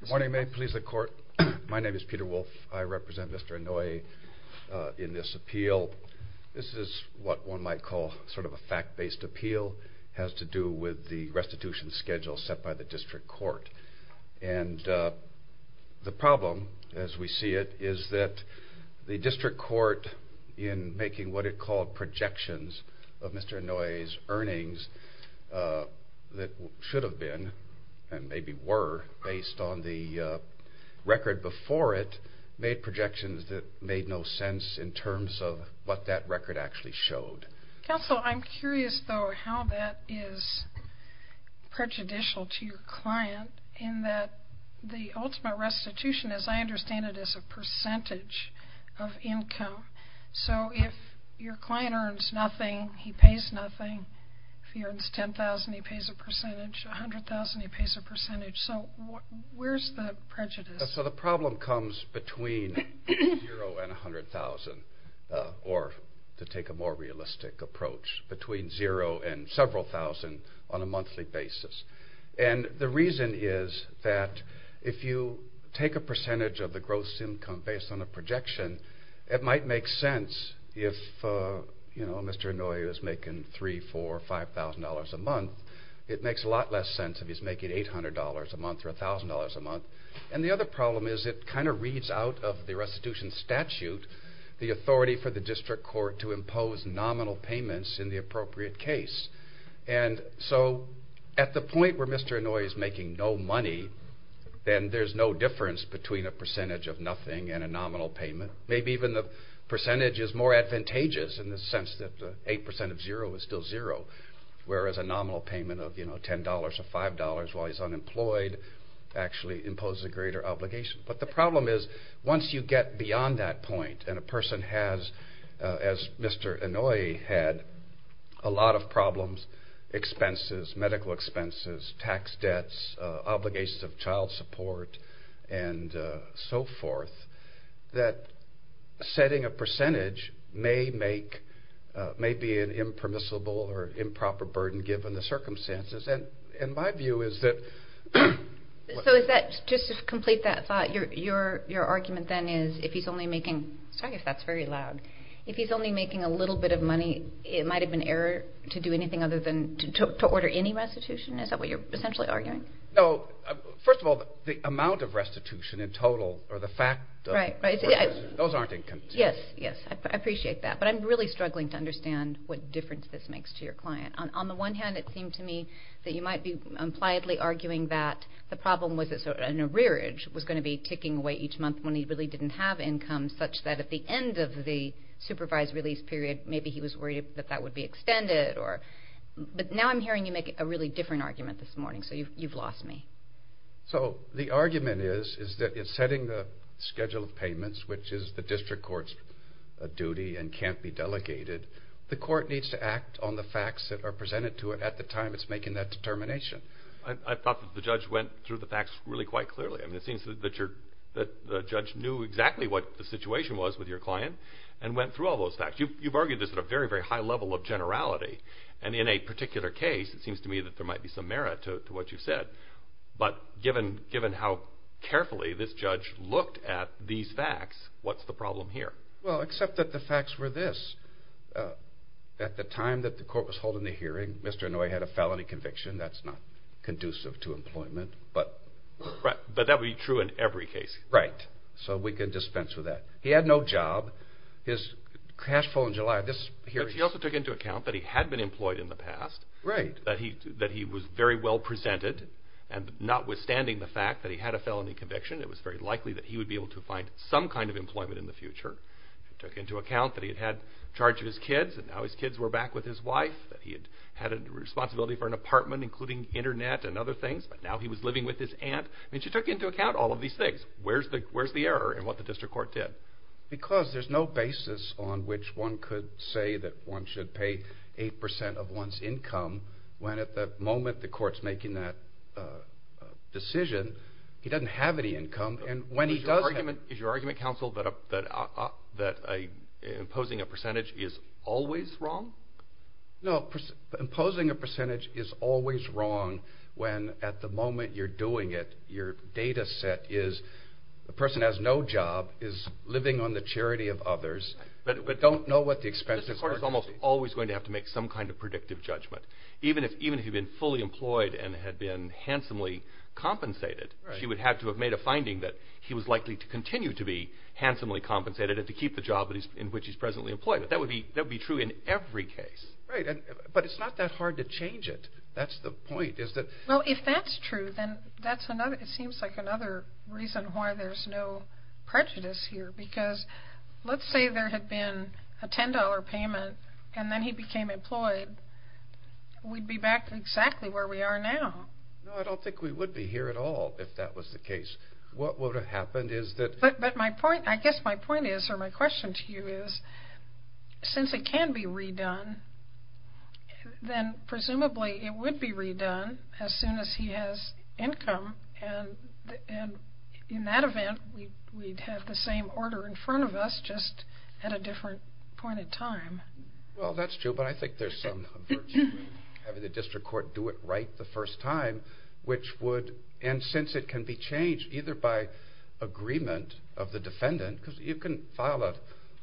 Good morning. May it please the Court. My name is Peter Wolf. I represent Mr. Inouye in this appeal. This is what one might call sort of a fact-based appeal. It has to do with the restitution schedule set by the District Court. And the problem, as we see it, is that the District Court, in making what it called projections of Mr. Inouye's earnings that should have been, and maybe were, based on the record before it, made projections that made no sense in terms of what that record actually showed. Counsel, I'm curious, though, how that is prejudicial to your client in that the ultimate restitution, as I understand it, is a percentage of income. So if your client earns nothing, he pays nothing. If he earns $10,000, he pays a percentage. $100,000, he pays a percentage. So where's the prejudice? So the problem comes between $0,000 and $100,000, or to take a more realistic approach, between $0,000 and several thousand on a monthly basis. And the reason is that if you take a percentage of the gross income based on a projection, it might make sense if Mr. Inouye was making $3,000, $4,000, $5,000 a month. It makes a lot less sense if he's making $800 a month or $1,000 a month. And the other problem is it kind of reads out of the restitution statute the authority for the District Court to impose nominal payments in the appropriate case. And so at the point where Mr. Inouye is making no money, then there's no difference between a percentage of nothing and a nominal payment. Maybe even the percentage is more advantageous in the sense that 8% of $0 is still $0, whereas a nominal payment of $10 or $5 while he's unemployed actually imposes a greater obligation. But the problem is once you get beyond that point and a person has, as Mr. Inouye had, a lot of problems, medical expenses, tax debts, obligations of child support, and so forth, that setting a percentage may be an impermissible or improper burden given the circumstances. And my view is that... So is that, just to complete that thought, your argument then is if he's only making, sorry if that's very loud, if he's only making a little bit of money, it might have been error to do anything other than to order any restitution? Is that what you're essentially arguing? No. First of all, the amount of restitution in total, or the fact of... Right, right. Those aren't inconsistent. Yes, yes. I appreciate that. But I'm really struggling to understand what difference this makes to your client. On the one hand, it seemed to me that you might be impliedly arguing that the problem was that an arrearage was going to be ticking away each month when he really didn't have income, such that at the end of the supervised release period, maybe he was worried that that would be extended. But now I'm hearing you make a really different argument this morning, so you've lost me. So the argument is that in setting the schedule of payments, which is the district court's duty and can't be delegated, the court needs to act on the facts that are presented to it at the time it's making that determination. I thought that the judge went through the facts really quite clearly. I mean, it seems that the judge knew exactly what the situation was with your client and went through all those facts. You've argued this at a very, very high level of generality, and in a particular case, it seems to me that there might be some merit to what you've said. But given how carefully this judge looked at these facts, what's the problem here? Well, except that the facts were this. At the time that the court was holding the hearing, Mr. Inouye had a felony conviction. That's not conducive to employment, but... Right, but that would be true in every case. Right, so we can dispense with that. He had no job. His cash flow in July, this hearing... But he also took into account that he had been employed in the past, that he was very well presented, and notwithstanding the fact that he had a felony conviction, it was very likely that he would be able to find some kind of employment in the future. He took into account that he had charge of his kids, and now his kids were back with his wife, that he had a responsibility for an apartment, including internet and other things, but now he was living with his aunt. He took into account all of these things. Where's the error in what the district court did? Because there's no basis on which one could say that one should pay 8% of one's income, when at the moment the court's making that decision, he doesn't have any income. Is your argument, counsel, that imposing a percentage is always wrong? No, imposing a percentage is always wrong when at the moment you're doing it, your data set is the person has no job, is living on the charity of others, but don't know what the expenses are. The court is almost always going to have to make some kind of predictive judgment. Even if he'd been fully employed and had been handsomely compensated, she would have to have made a finding that he was likely to continue to be handsomely compensated and to keep the job in which he's presently employed. That would be true in every case. But it's not that hard to change it. That's the point. Well, if that's true, then it seems like another reason why there's no prejudice here, because let's say there had been a $10 payment and then he became employed, we'd be back exactly where we are now. No, I don't think we would be here at all if that was the case. What would have happened is that... But I guess my point is, or my question to you is, since it can be redone, then presumably it would be redone as soon as he has income, and in that event we'd have the same order in front of us, just at a different point in time. Well, that's true, but I think there's some virtue in having the district court do it right the first time, which would... And since it can be changed either by agreement of the defendant, because you can file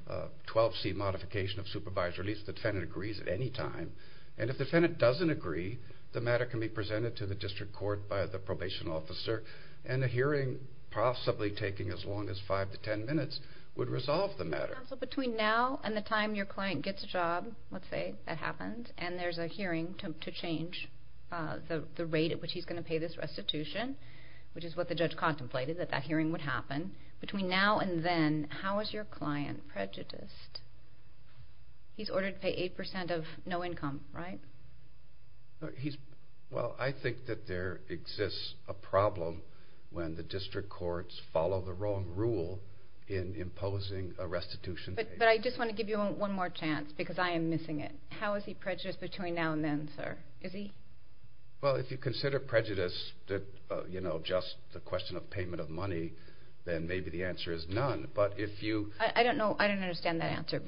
a 12C modification of supervised release if the defendant agrees at any time, and if the defendant doesn't agree, the matter can be presented to the district court by the probation officer, and a hearing possibly taking as long as 5 to 10 minutes would resolve the matter. So between now and the time your client gets a job, let's say that happens, and there's a hearing to change the rate at which he's going to pay this restitution, which is what the judge contemplated, that that hearing would happen, between now and then, how is your client prejudiced? He's ordered to pay 8% of no income, right? Well, I think that there exists a problem when the district courts follow the wrong rule in imposing a restitution. But I just want to give you one more chance, because I am missing it. How is he prejudiced between now and then, sir? Is he? Well, if you consider prejudice just the question of payment of money, then maybe the answer is none, but if you... I don't know. I don't understand that answer,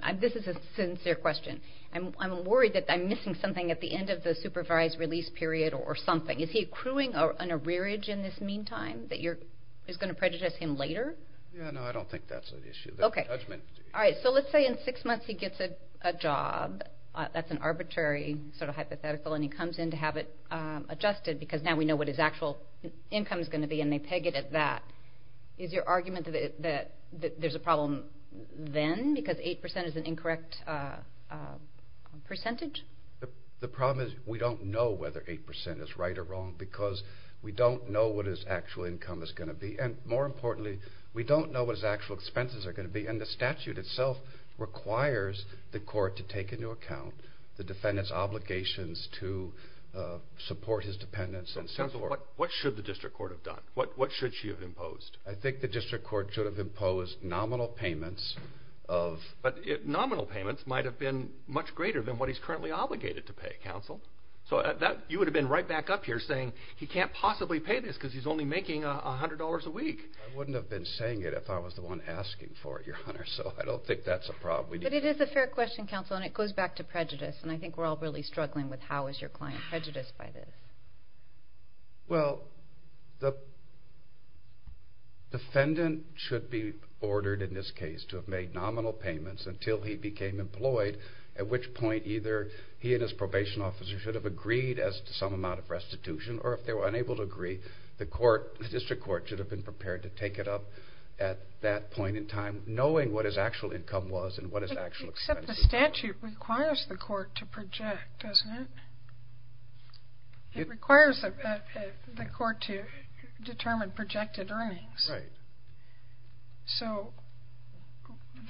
and this is a sincere question. I'm worried that I'm missing something at the end of the supervised release period or something. Is he accruing an arrearage in this meantime that is going to prejudice him later? No, I don't think that's an issue. All right, so let's say in six months he gets a job. That's an arbitrary sort of hypothetical, and he comes in to have it adjusted, because now we know what his actual income is going to be, and they peg it at that. Is your argument that there's a problem then, because 8% is an incorrect percentage? The problem is we don't know whether 8% is right or wrong, because we don't know what his actual income is going to be, and more importantly, we don't know what his actual expenses are going to be, and the statute itself requires the court to take into account the defendant's obligations to support his dependents and so forth. What should the district court have done? What should she have imposed? I think the district court should have imposed nominal payments of... So you would have been right back up here saying he can't possibly pay this because he's only making $100 a week. I wouldn't have been saying it if I was the one asking for it, Your Honor, so I don't think that's a problem. But it is a fair question, counsel, and it goes back to prejudice, and I think we're all really struggling with how is your client prejudiced by this. Well, the defendant should be ordered in this case to have made nominal payments until he became employed, at which point either he and his probation officer should have agreed as to some amount of restitution, or if they were unable to agree, the district court should have been prepared to take it up at that point in time, knowing what his actual income was and what his actual expenses were. Except the statute requires the court to project, doesn't it? It requires the court to determine projected earnings. Right. So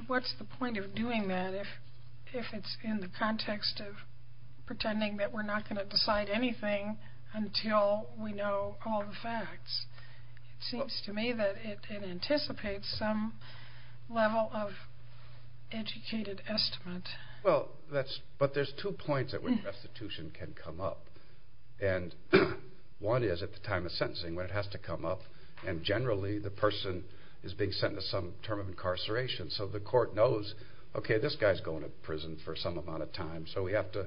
what's the point of doing that if it's in the context of pretending that we're not going to decide anything until we know all the facts? It seems to me that it anticipates some level of educated estimate. Well, but there's two points at which restitution can come up. And one is at the time of sentencing when it has to come up, and generally the person is being sentenced to some term of incarceration, so the court knows, okay, this guy's going to prison for some amount of time, so we have to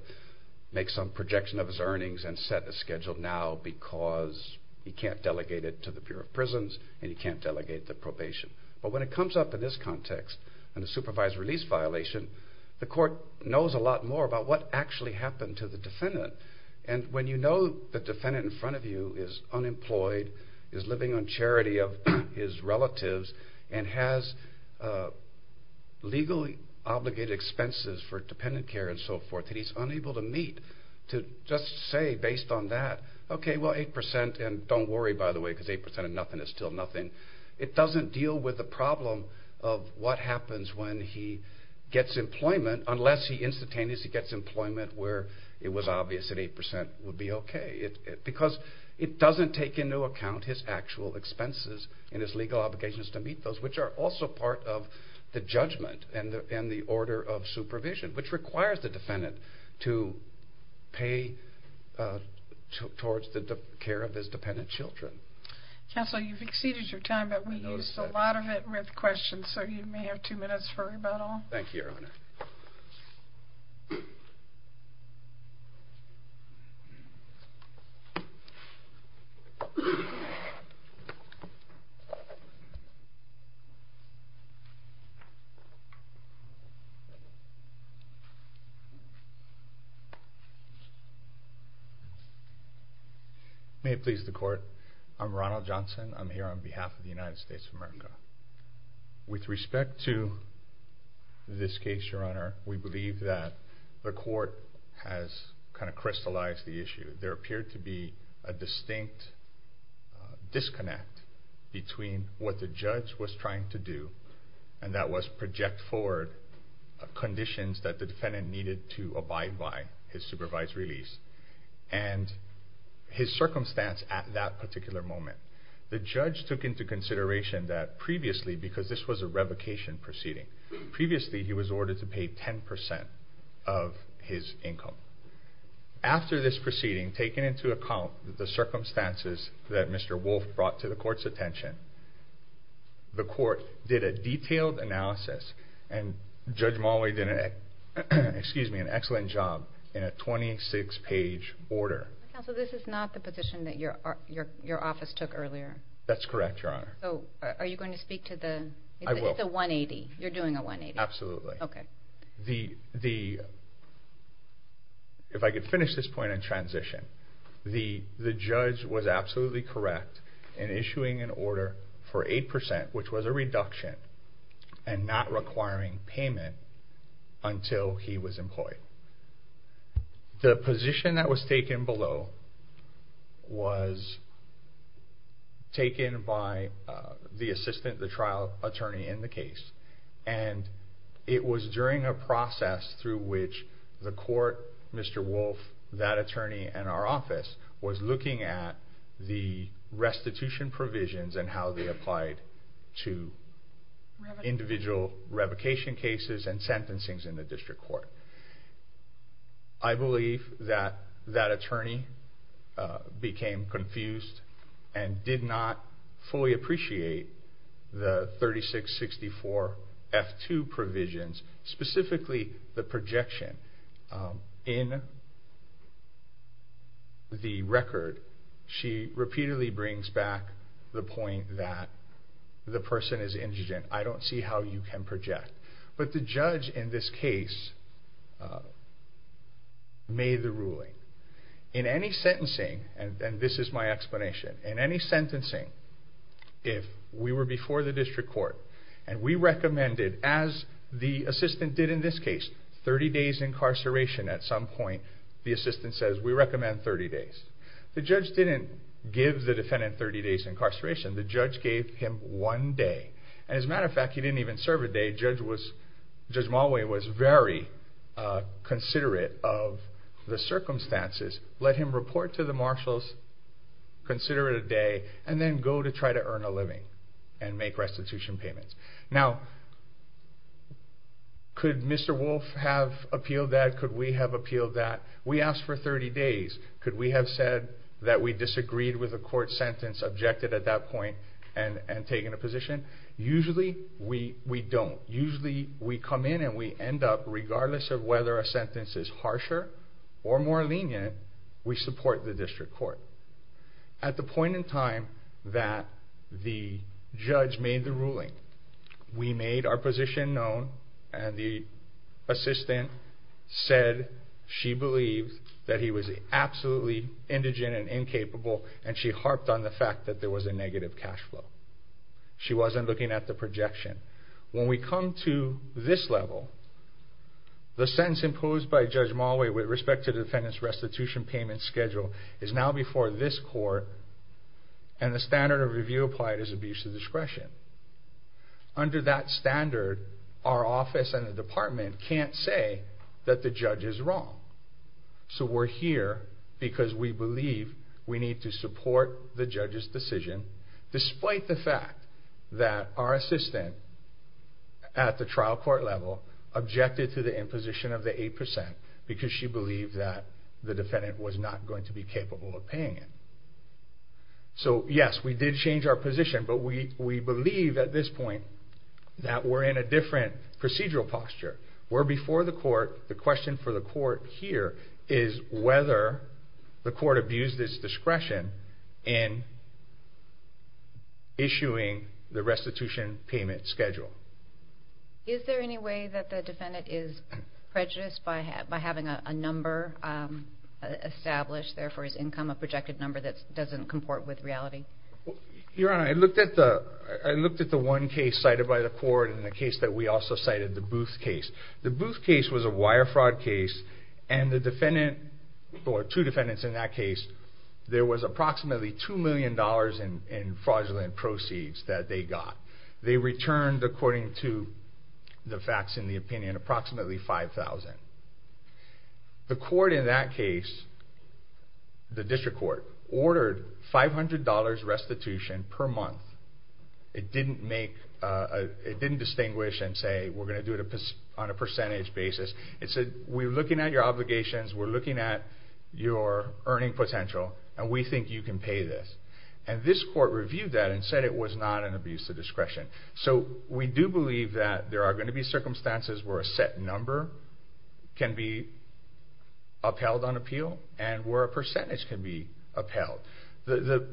make some projection of his earnings and set a schedule now because he can't delegate it to the Bureau of Prisons and he can't delegate it to probation. But when it comes up in this context, in a supervised release violation, the court knows a lot more about what actually happened to the defendant. And when you know the defendant in front of you is unemployed, is living on charity of his relatives, and has legally obligated expenses for dependent care and so forth, and he's unable to meet, to just say based on that, okay, well, 8 percent, and don't worry, by the way, because 8 percent of nothing is still nothing. It doesn't deal with the problem of what happens when he gets employment, unless he instantaneously gets employment where it was obvious that 8 percent would be okay. Because it doesn't take into account his actual expenses and his legal obligations to meet those, which are also part of the judgment and the order of supervision, which requires the defendant to pay towards the care of his dependent children. Counsel, you've exceeded your time, but we used a lot of it with questions, so you may have two minutes for rebuttal. May it please the court, I'm Ronald Johnson. I'm here on behalf of the United States of America. With respect to this case, Your Honor, we believe that the court has kind of crystallized the issue. There appeared to be a distinct disconnect between what the judge was trying to do, and that was project forward conditions that the defendant needed to abide by, his supervised release, and his circumstance at that particular moment. The judge took into consideration that previously, because this was a revocation proceeding, previously he was ordered to pay 10 percent of his income. After this proceeding, taking into account the circumstances that Mr. Wolf brought to the court's attention, the court did a detailed analysis, and Judge Mulway did an excellent job in a 26-page order. Counsel, this is not the position that your office took earlier. That's correct, Your Honor. Are you going to speak to the... I will. It's a 180, you're doing a 180. Absolutely. Okay. If I could finish this point in transition, the judge was absolutely correct in issuing an order for 8 percent, which was a reduction, and not requiring payment until he was employed. The position that was taken below was taken by the assistant, the trial attorney in the case, and it was during a process through which the court, Mr. Wolf, that attorney, and our office was looking at the restitution provisions and how they applied to individual revocation cases and sentencings in the district court. I believe that that attorney became confused and did not fully appreciate the 3664 F2 provisions, specifically the projection. In the record, she repeatedly brings back the point that the person is indigent. I don't see how you can project. But the judge in this case made the ruling. In any sentencing, and this is my explanation, in any sentencing, if we were before the district court and we recommended, as the assistant did in this case, 30 days incarceration at some point, the assistant says, we recommend 30 days. The judge didn't give the defendant 30 days incarceration. The judge gave him one day. And as a matter of fact, he didn't even serve a day. Judge Mulway was very considerate of the circumstances, let him report to the marshals, consider it a day, and then go to try to earn a living and make restitution payments. Now, could Mr. Wolf have appealed that? Could we have appealed that? We asked for 30 days. Could we have said that we disagreed with a court sentence, objected at that point, and taken a position? Usually, we don't. Usually, we come in and we end up, regardless of whether a sentence is harsher or more lenient, we support the district court. At the point in time that the judge made the ruling, we made our position known, and the assistant said she believed that he was absolutely indigent and incapable, and she harped on the fact that there was a negative cash flow. She wasn't looking at the projection. When we come to this level, the sentence imposed by Judge Mulway with respect to defendant's restitution payment schedule is now before this court, and the standard of review applied is abuse of discretion. Under that standard, our office and the department can't say that the judge is wrong. We're here because we believe we need to support the judge's decision, despite the fact that our assistant at the trial court level objected to the imposition of the 8% because she believed that the defendant was not going to be capable of paying it. Yes, we did change our position, but we believe at this point that we're in a different procedural posture. We're before the court. The question for the court here is whether the court abused its discretion in issuing the restitution payment schedule. Is there any way that the defendant is prejudiced by having a number established there for his income, a projected number that doesn't comport with reality? Your Honor, I looked at the one case cited by the court and the case that we also cited, the Booth case. The Booth case was a wire fraud case, and the defendant, or two defendants in that case, there was approximately $2 million in fraudulent proceeds that they got. They returned, according to the facts in the opinion, approximately $5,000. The court in that case, the district court, ordered $500 restitution per month. It didn't distinguish and say, we're going to do it on a percentage basis. It said, we're looking at your obligations, we're looking at your earning potential, and we think you can pay this. And this court reviewed that and said it was not an abuse of discretion. So we do believe that there are going to be circumstances where a set number can be upheld on appeal, and where a percentage can be upheld. The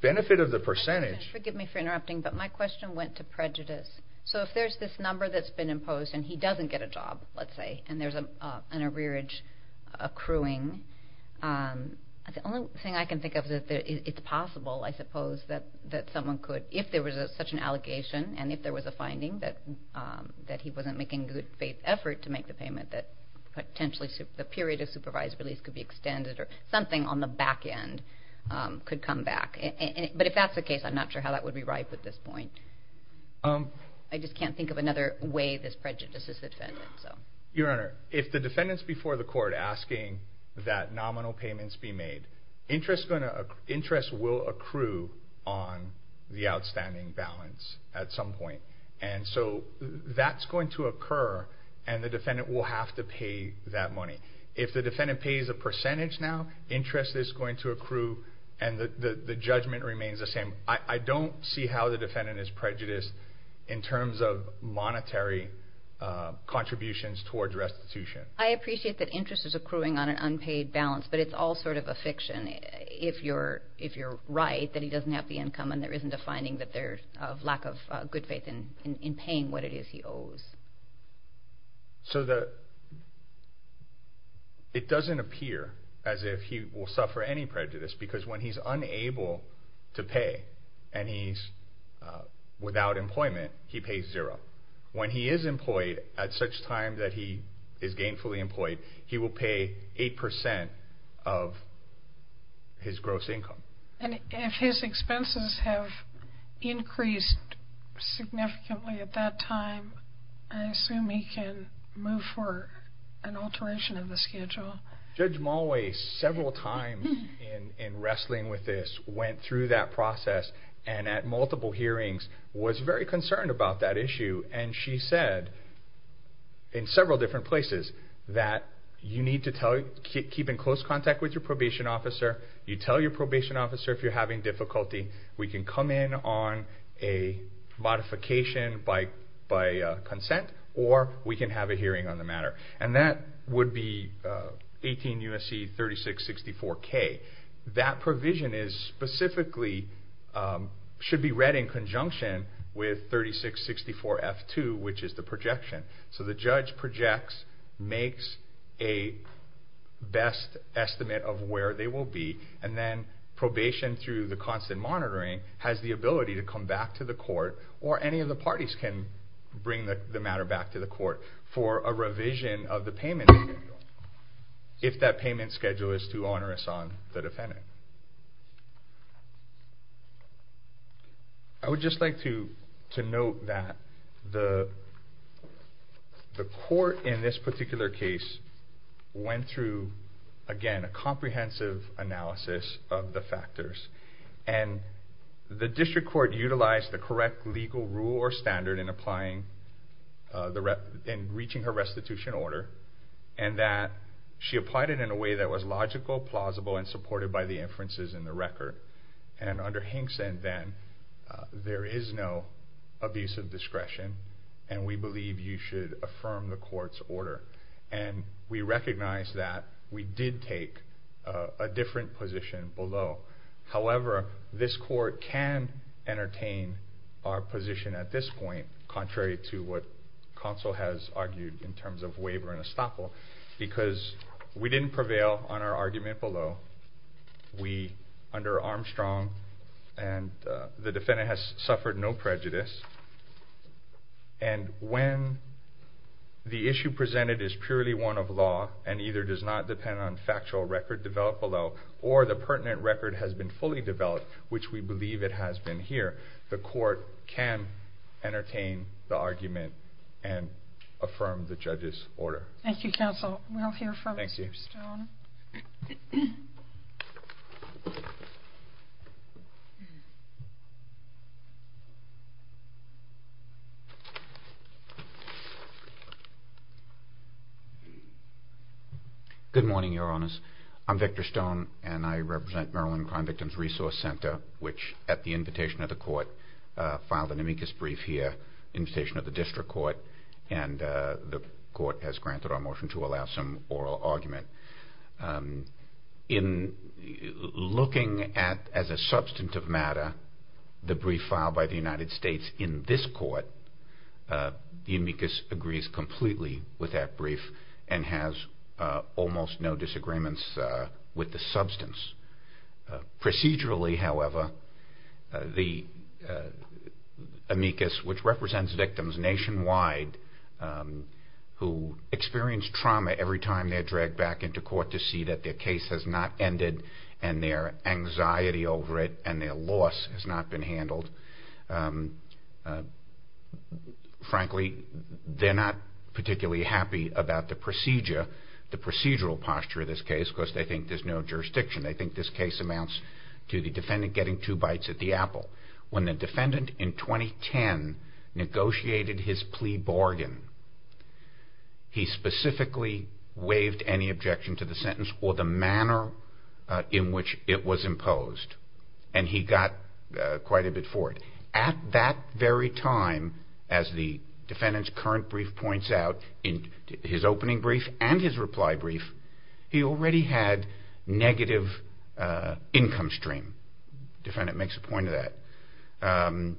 benefit of the percentage... Forgive me for interrupting, but my question went to prejudice. So if there's this number that's been imposed and he doesn't get a job, let's say, and there's an arrearage accruing, the only thing I can think of is that it's possible, I suppose, that someone could, if there was such an allegation, and if there was a finding that he wasn't making good faith effort to make the payment, that potentially the period of supervised release could be extended, or something on the back end could come back. But if that's the case, I'm not sure how that would be ripe at this point. I just can't think of another way this prejudice is defended. Your Honor, if the defendant's before the court asking that nominal payments be made, interest will accrue on the outstanding balance at some point. And so that's going to occur, and the defendant will have to pay that money. If the defendant pays a percentage now, interest is going to accrue, and the judgment remains the same. I don't see how the defendant is prejudiced in terms of monetary contributions towards restitution. I appreciate that interest is accruing on an unpaid balance, but it's all sort of a fiction, if you're right that he doesn't have the income and there isn't a finding of lack of good faith in paying what it is he owes. So it doesn't appear as if he will suffer any prejudice, because when he's unable to pay, and he's without employment, he pays zero. When he is employed at such time that he is gainfully employed, he will pay 8% of his gross income. And if his expenses have increased significantly at that time, I assume he can move for an alteration of the schedule. Judge Mulway, several times in wrestling with this, went through that process, and at multiple hearings was very concerned about that issue. And she said, in several different places, that you need to keep in close contact with your probation officer. You tell your probation officer if you're having difficulty, we can come in on a modification by consent, or we can have a hearing on the matter. And that would be 18 U.S.C. 3664-K. That provision should be read in conjunction with 3664-F2, which is the projection. So the judge projects, makes a best estimate of where they will be, and then probation through the constant monitoring has the ability to come back to the court, or any of the parties can bring the matter back to the court, for a revision of the payment schedule, if that payment schedule is too onerous on the defendant. I would just like to note that the court, in this particular case, went through, again, a comprehensive analysis of the factors. And the district court utilized the correct legal rule or standard in reaching her restitution order, and that she applied it in a way that was logical, plausible, and supported by the inferences in the record. And under Hinkson, then, there is no abuse of discretion, and we believe you should affirm the court's order. And we recognize that we did take a different position below. However, this court can entertain our position at this point, contrary to what counsel has argued in terms of waiver and estoppel, because we didn't prevail on our argument below. Under Armstrong, the defendant has suffered no prejudice. And when the issue presented is purely one of law, and either does not depend on factual record developed below, or the pertinent record has been fully developed, which we believe it has been here, the court can entertain the argument and affirm the judge's order. Thank you, counsel. We'll hear from Victor Stone. Good morning, Your Honors. I'm Victor Stone, and I represent Maryland Crime Victims Resource Center, which, at the invitation of the court, filed an amicus brief here, invitation of the district court, and the court has granted our motion to allow some oral argument. In looking at, as a substantive matter, the brief filed by the United States in this court, the amicus agrees completely with that brief and has almost no disagreements with the substance. Procedurally, however, the amicus, which represents victims nationwide who experience trauma every time they're dragged back into court to see that their case has not ended and their anxiety over it and their loss has not been handled, frankly, they're not particularly happy about the procedure, the procedural posture of this case, because they think there's no jurisdiction. They think this case amounts to the defendant getting two bites at the apple. When the defendant in 2010 negotiated his plea bargain, he specifically waived any objection to the sentence or the manner in which it was imposed, and he got quite a bit for it. At that very time, as the defendant's current brief points out, his opening brief and his reply brief, he already had negative income stream. The defendant makes a point of that.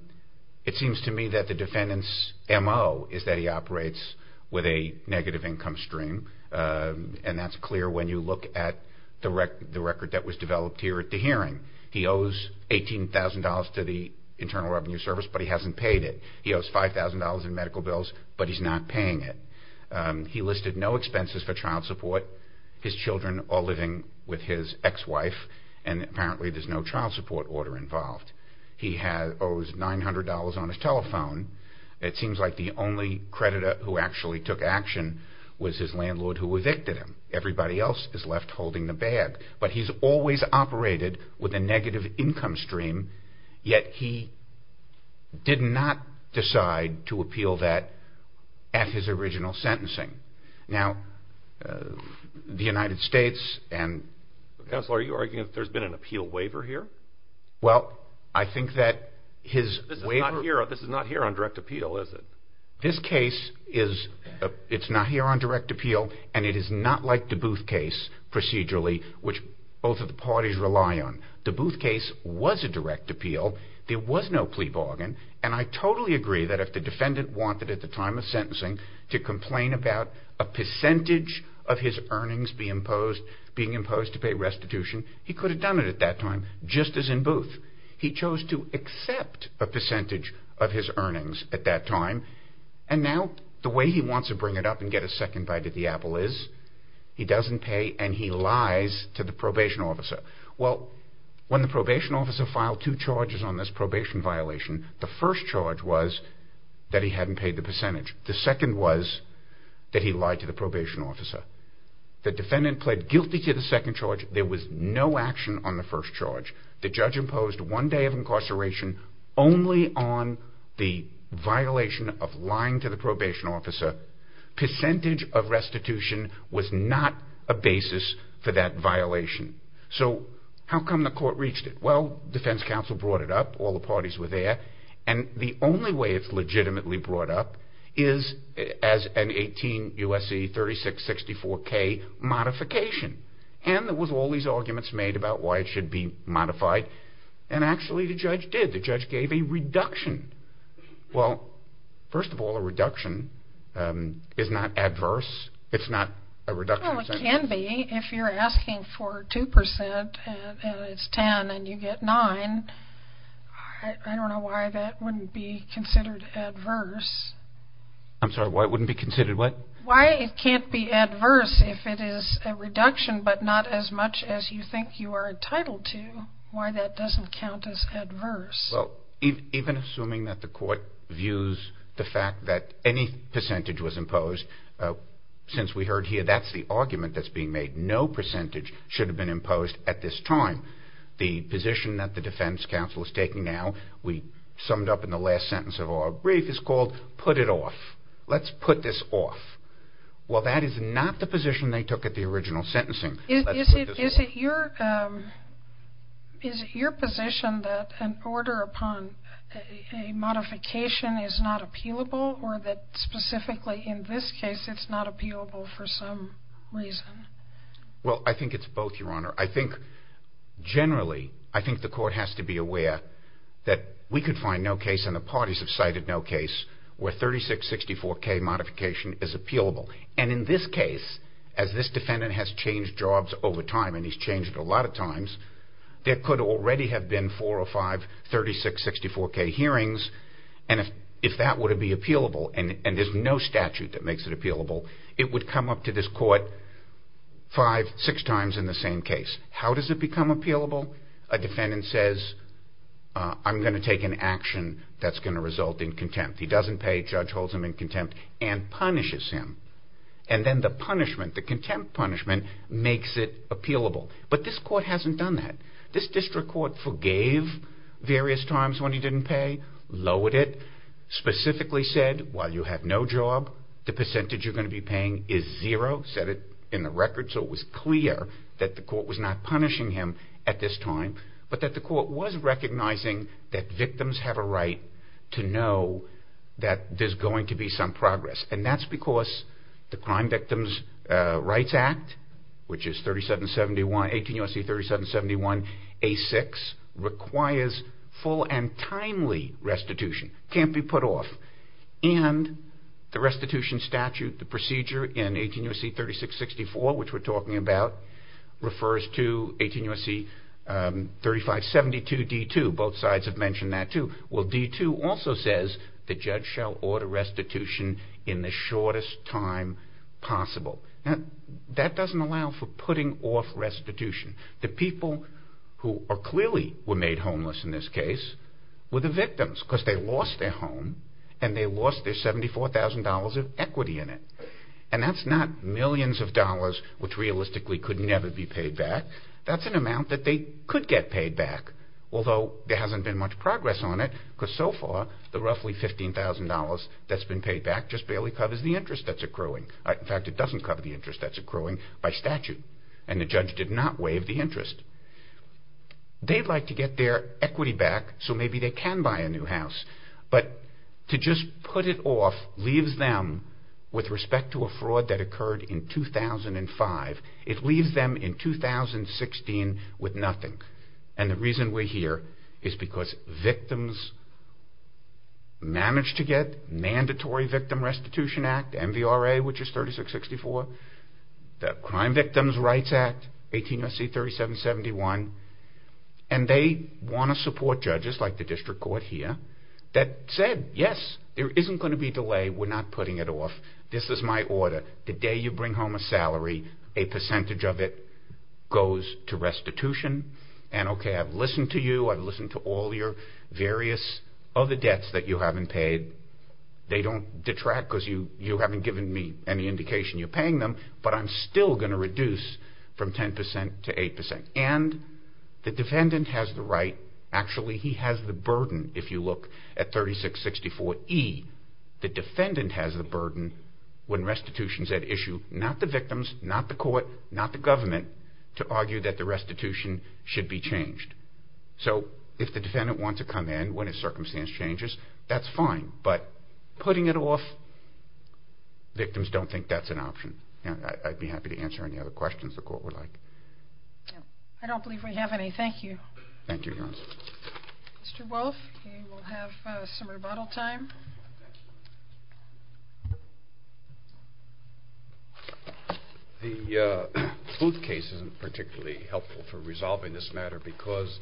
It seems to me that the defendant's M.O. is that he operates with a negative income stream, and that's clear when you look at the record that was developed here at the hearing. He owes $18,000 to the Internal Revenue Service, but he hasn't paid it. He owes $5,000 in medical bills, but he's not paying it. He listed no expenses for child support. His children are living with his ex-wife, and apparently there's no child support order involved. He owes $900 on his telephone. It seems like the only creditor who actually took action was his landlord who evicted him. Everybody else is left holding the bag, but he's always operated with a negative income stream, yet he did not decide to appeal that at his original sentencing. Now, the United States and... Counselor, are you arguing that there's been an appeal waiver here? Well, I think that his waiver... This is not here on direct appeal, is it? This case is not here on direct appeal, and it is not like the Booth case procedurally, which both of the parties rely on. The Booth case was a direct appeal. There was no plea bargain, and I totally agree that if the defendant wanted at the time of sentencing to complain about a percentage of his earnings being imposed to pay restitution, he could have done it at that time, just as in Booth. He chose to accept a percentage of his earnings at that time, and now the way he wants to bring it up and get a second bite at the apple is he doesn't pay and he lies to the probation officer. Well, when the probation officer filed two charges on this probation violation, the first charge was that he hadn't paid the percentage. The second was that he lied to the probation officer. The defendant pled guilty to the second charge. There was no action on the first charge. The judge imposed one day of incarceration only on the violation of lying to the probation officer. Percentage of restitution was not a basis for that violation. So how come the court reached it? Well, defense counsel brought it up. All the parties were there. And the only way it's legitimately brought up is as an 18 U.S.C. 3664-K modification. And there was all these arguments made about why it should be modified, and actually the judge did. The judge gave a reduction. Well, first of all, a reduction is not adverse. It's not a reduction. Well, it can be if you're asking for 2% and it's 10 and you get 9. I don't know why that wouldn't be considered adverse. I'm sorry, why it wouldn't be considered what? Why it can't be adverse if it is a reduction but not as much as you think you are entitled to. Why that doesn't count as adverse. Well, even assuming that the court views the fact that any percentage was imposed, since we heard here that's the argument that's being made. No percentage should have been imposed at this time. The position that the defense counsel is taking now, we summed up in the last sentence of our brief, is called put it off. Let's put this off. Well, that is not the position they took at the original sentencing. Is it your position that an order upon a modification is not appealable or that specifically in this case it's not appealable for some reason? Well, I think it's both, Your Honor. I think generally, I think the court has to be aware that we could find no case, and the parties have cited no case, where 3664K modification is appealable. And in this case, as this defendant has changed jobs over time, and he's changed a lot of times, there could already have been four or five 3664K hearings. And if that were to be appealable, and there's no statute that makes it appealable, it would come up to this court five, six times in the same case. How does it become appealable? A defendant says, I'm going to take an action that's going to result in contempt. He doesn't pay. Judge holds him in contempt and punishes him. And then the punishment, the contempt punishment, makes it appealable. But this court hasn't done that. This district court forgave various times when he didn't pay, lowered it, specifically said, while you have no job, the percentage you're going to be paying is zero, set it in the record so it was clear that the court was not punishing him at this time, but that the court was recognizing that victims have a right to know that there's going to be some progress. And that's because the Crime Victims Rights Act, which is 18 U.S.C. 3771A6, requires full and timely restitution, can't be put off. And the restitution statute, the procedure in 18 U.S.C. 3664, which we're talking about, refers to 18 U.S.C. 3572D2, both sides have mentioned that too. Well, D2 also says the judge shall order restitution in the shortest time possible. That doesn't allow for putting off restitution. The people who clearly were made homeless in this case were the victims because they lost their home and they lost their $74,000 of equity in it. And that's not millions of dollars which realistically could never be paid back. That's an amount that they could get paid back, although there hasn't been much progress on it because so far, the roughly $15,000 that's been paid back just barely covers the interest that's accruing. In fact, it doesn't cover the interest that's accruing by statute. And the judge did not waive the interest. They'd like to get their equity back so maybe they can buy a new house, but to just put it off leaves them with respect to a fraud that occurred in 2005. It leaves them in 2016 with nothing. And the reason we're here is because victims managed to get mandatory Victim Restitution Act, MVRA, which is 3664, the Crime Victims Rights Act, 18 U.S.C. 3771, and they want to support judges like the district court here that said, yes, there isn't going to be a delay. We're not putting it off. This is my order. The day you bring home a salary, a percentage of it goes to restitution. And okay, I've listened to you. I've listened to all your various other debts that you haven't paid. They don't detract because you haven't given me any indication you're paying them, but I'm still going to reduce from 10% to 8%. And the defendant has the right, actually he has the burden, if you look at 3664E, the defendant has the burden when restitution is at issue, not the victims, not the court, not the government, to argue that the restitution should be changed. So if the defendant wants to come in when a circumstance changes, that's fine, but putting it off, victims don't think that's an option. I'd be happy to answer any other questions the court would like. I don't believe we have any. Thank you. Thank you, Your Honor. Mr. Wolf, we'll have some rebuttal time. The Booth case isn't particularly helpful for resolving this matter because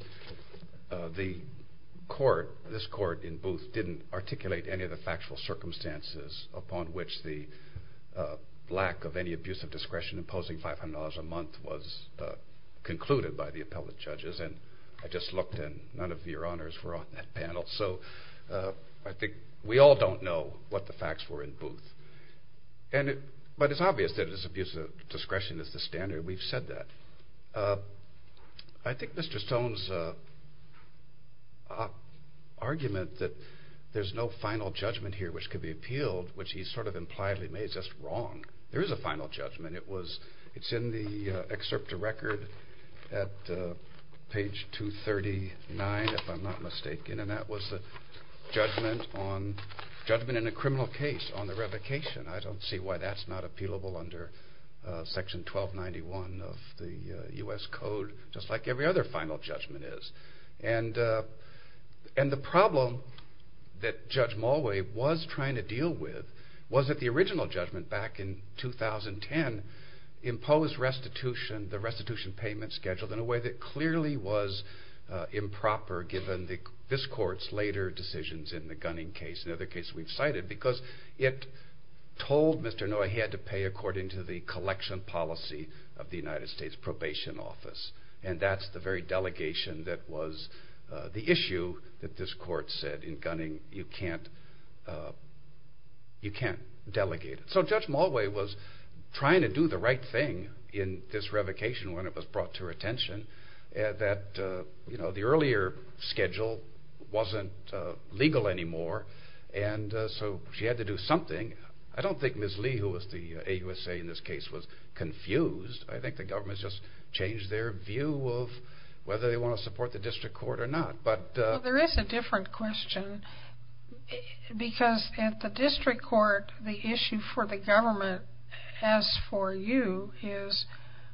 this court in Booth didn't articulate any of the factual circumstances upon which the lack of any abuse of discretion imposing $500 a month was concluded by the appellate judges, and I just looked and none of your honors were on that panel. So I think we all don't know what the facts were in Booth. But it's obvious that this abuse of discretion is the standard. We've said that. I think Mr. Stone's argument that there's no final judgment here which could be appealed, which he sort of impliedly made, that's wrong. There is a final judgment. It's in the excerpt of record at page 239, if I'm not mistaken, and that was the judgment in a criminal case on the revocation. I don't see why that's not appealable under Section 1291 of the U.S. Code, just like every other final judgment is. And the problem that Judge Mulway was trying to deal with was that the original judgment back in 2010 imposed the restitution payment schedule in a way that clearly was improper given this court's later decisions in the Gunning case, another case we've cited, because it told Mr. Noye he had to pay according to the collection policy of the United States Probation Office, and that's the very delegation that was the issue that this court said in Gunning, you can't delegate it. So Judge Mulway was trying to do the right thing in this revocation when it was brought to her attention that the earlier schedule wasn't legal anymore, and so she had to do something. I don't think Ms. Lee, who was the AUSA in this case, was confused. I think the government just changed their view of whether they want to support the district court or not. There is a different question, because at the district court, the issue for the government as for you is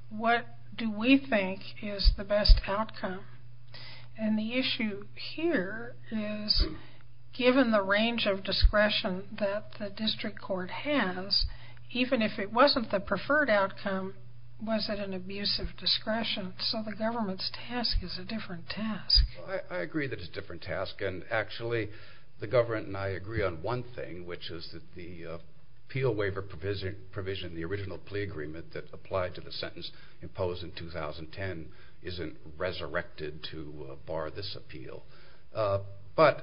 what do we think is the best outcome? And the issue here is given the range of discretion that the district court has, even if it wasn't the preferred outcome, was it an abuse of discretion? So the government's task is a different task. I agree that it's a different task, and actually the government and I agree on one thing, which is that the appeal waiver provision, the original plea agreement that applied to the sentence imposed in 2010, isn't resurrected to bar this appeal. But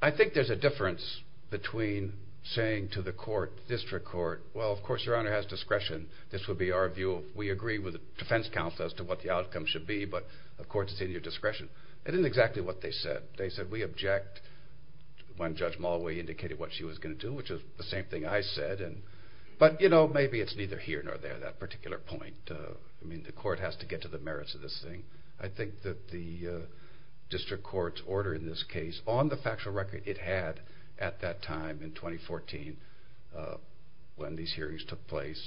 I think there's a difference between saying to the court, district court, well of course your honor has discretion, this would be our view, we agree with the defense counsel as to what the outcome should be, but of course it's in your discretion. It isn't exactly what they said. They said we object when Judge Mulway indicated what she was going to do, which is the same thing I said, but maybe it's neither here nor there, that particular point. The court has to get to the merits of this thing. I think that the district court's order in this case, on the factual record it had at that time in 2014, when these hearings took place,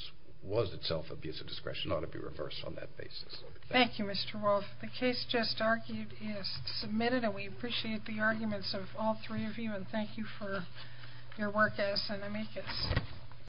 was itself abuse of discretion. It ought to be reversed on that basis. Thank you, Mr. Wolf. The case just argued is submitted and we appreciate the arguments of all three of you and thank you for your work as an amicus.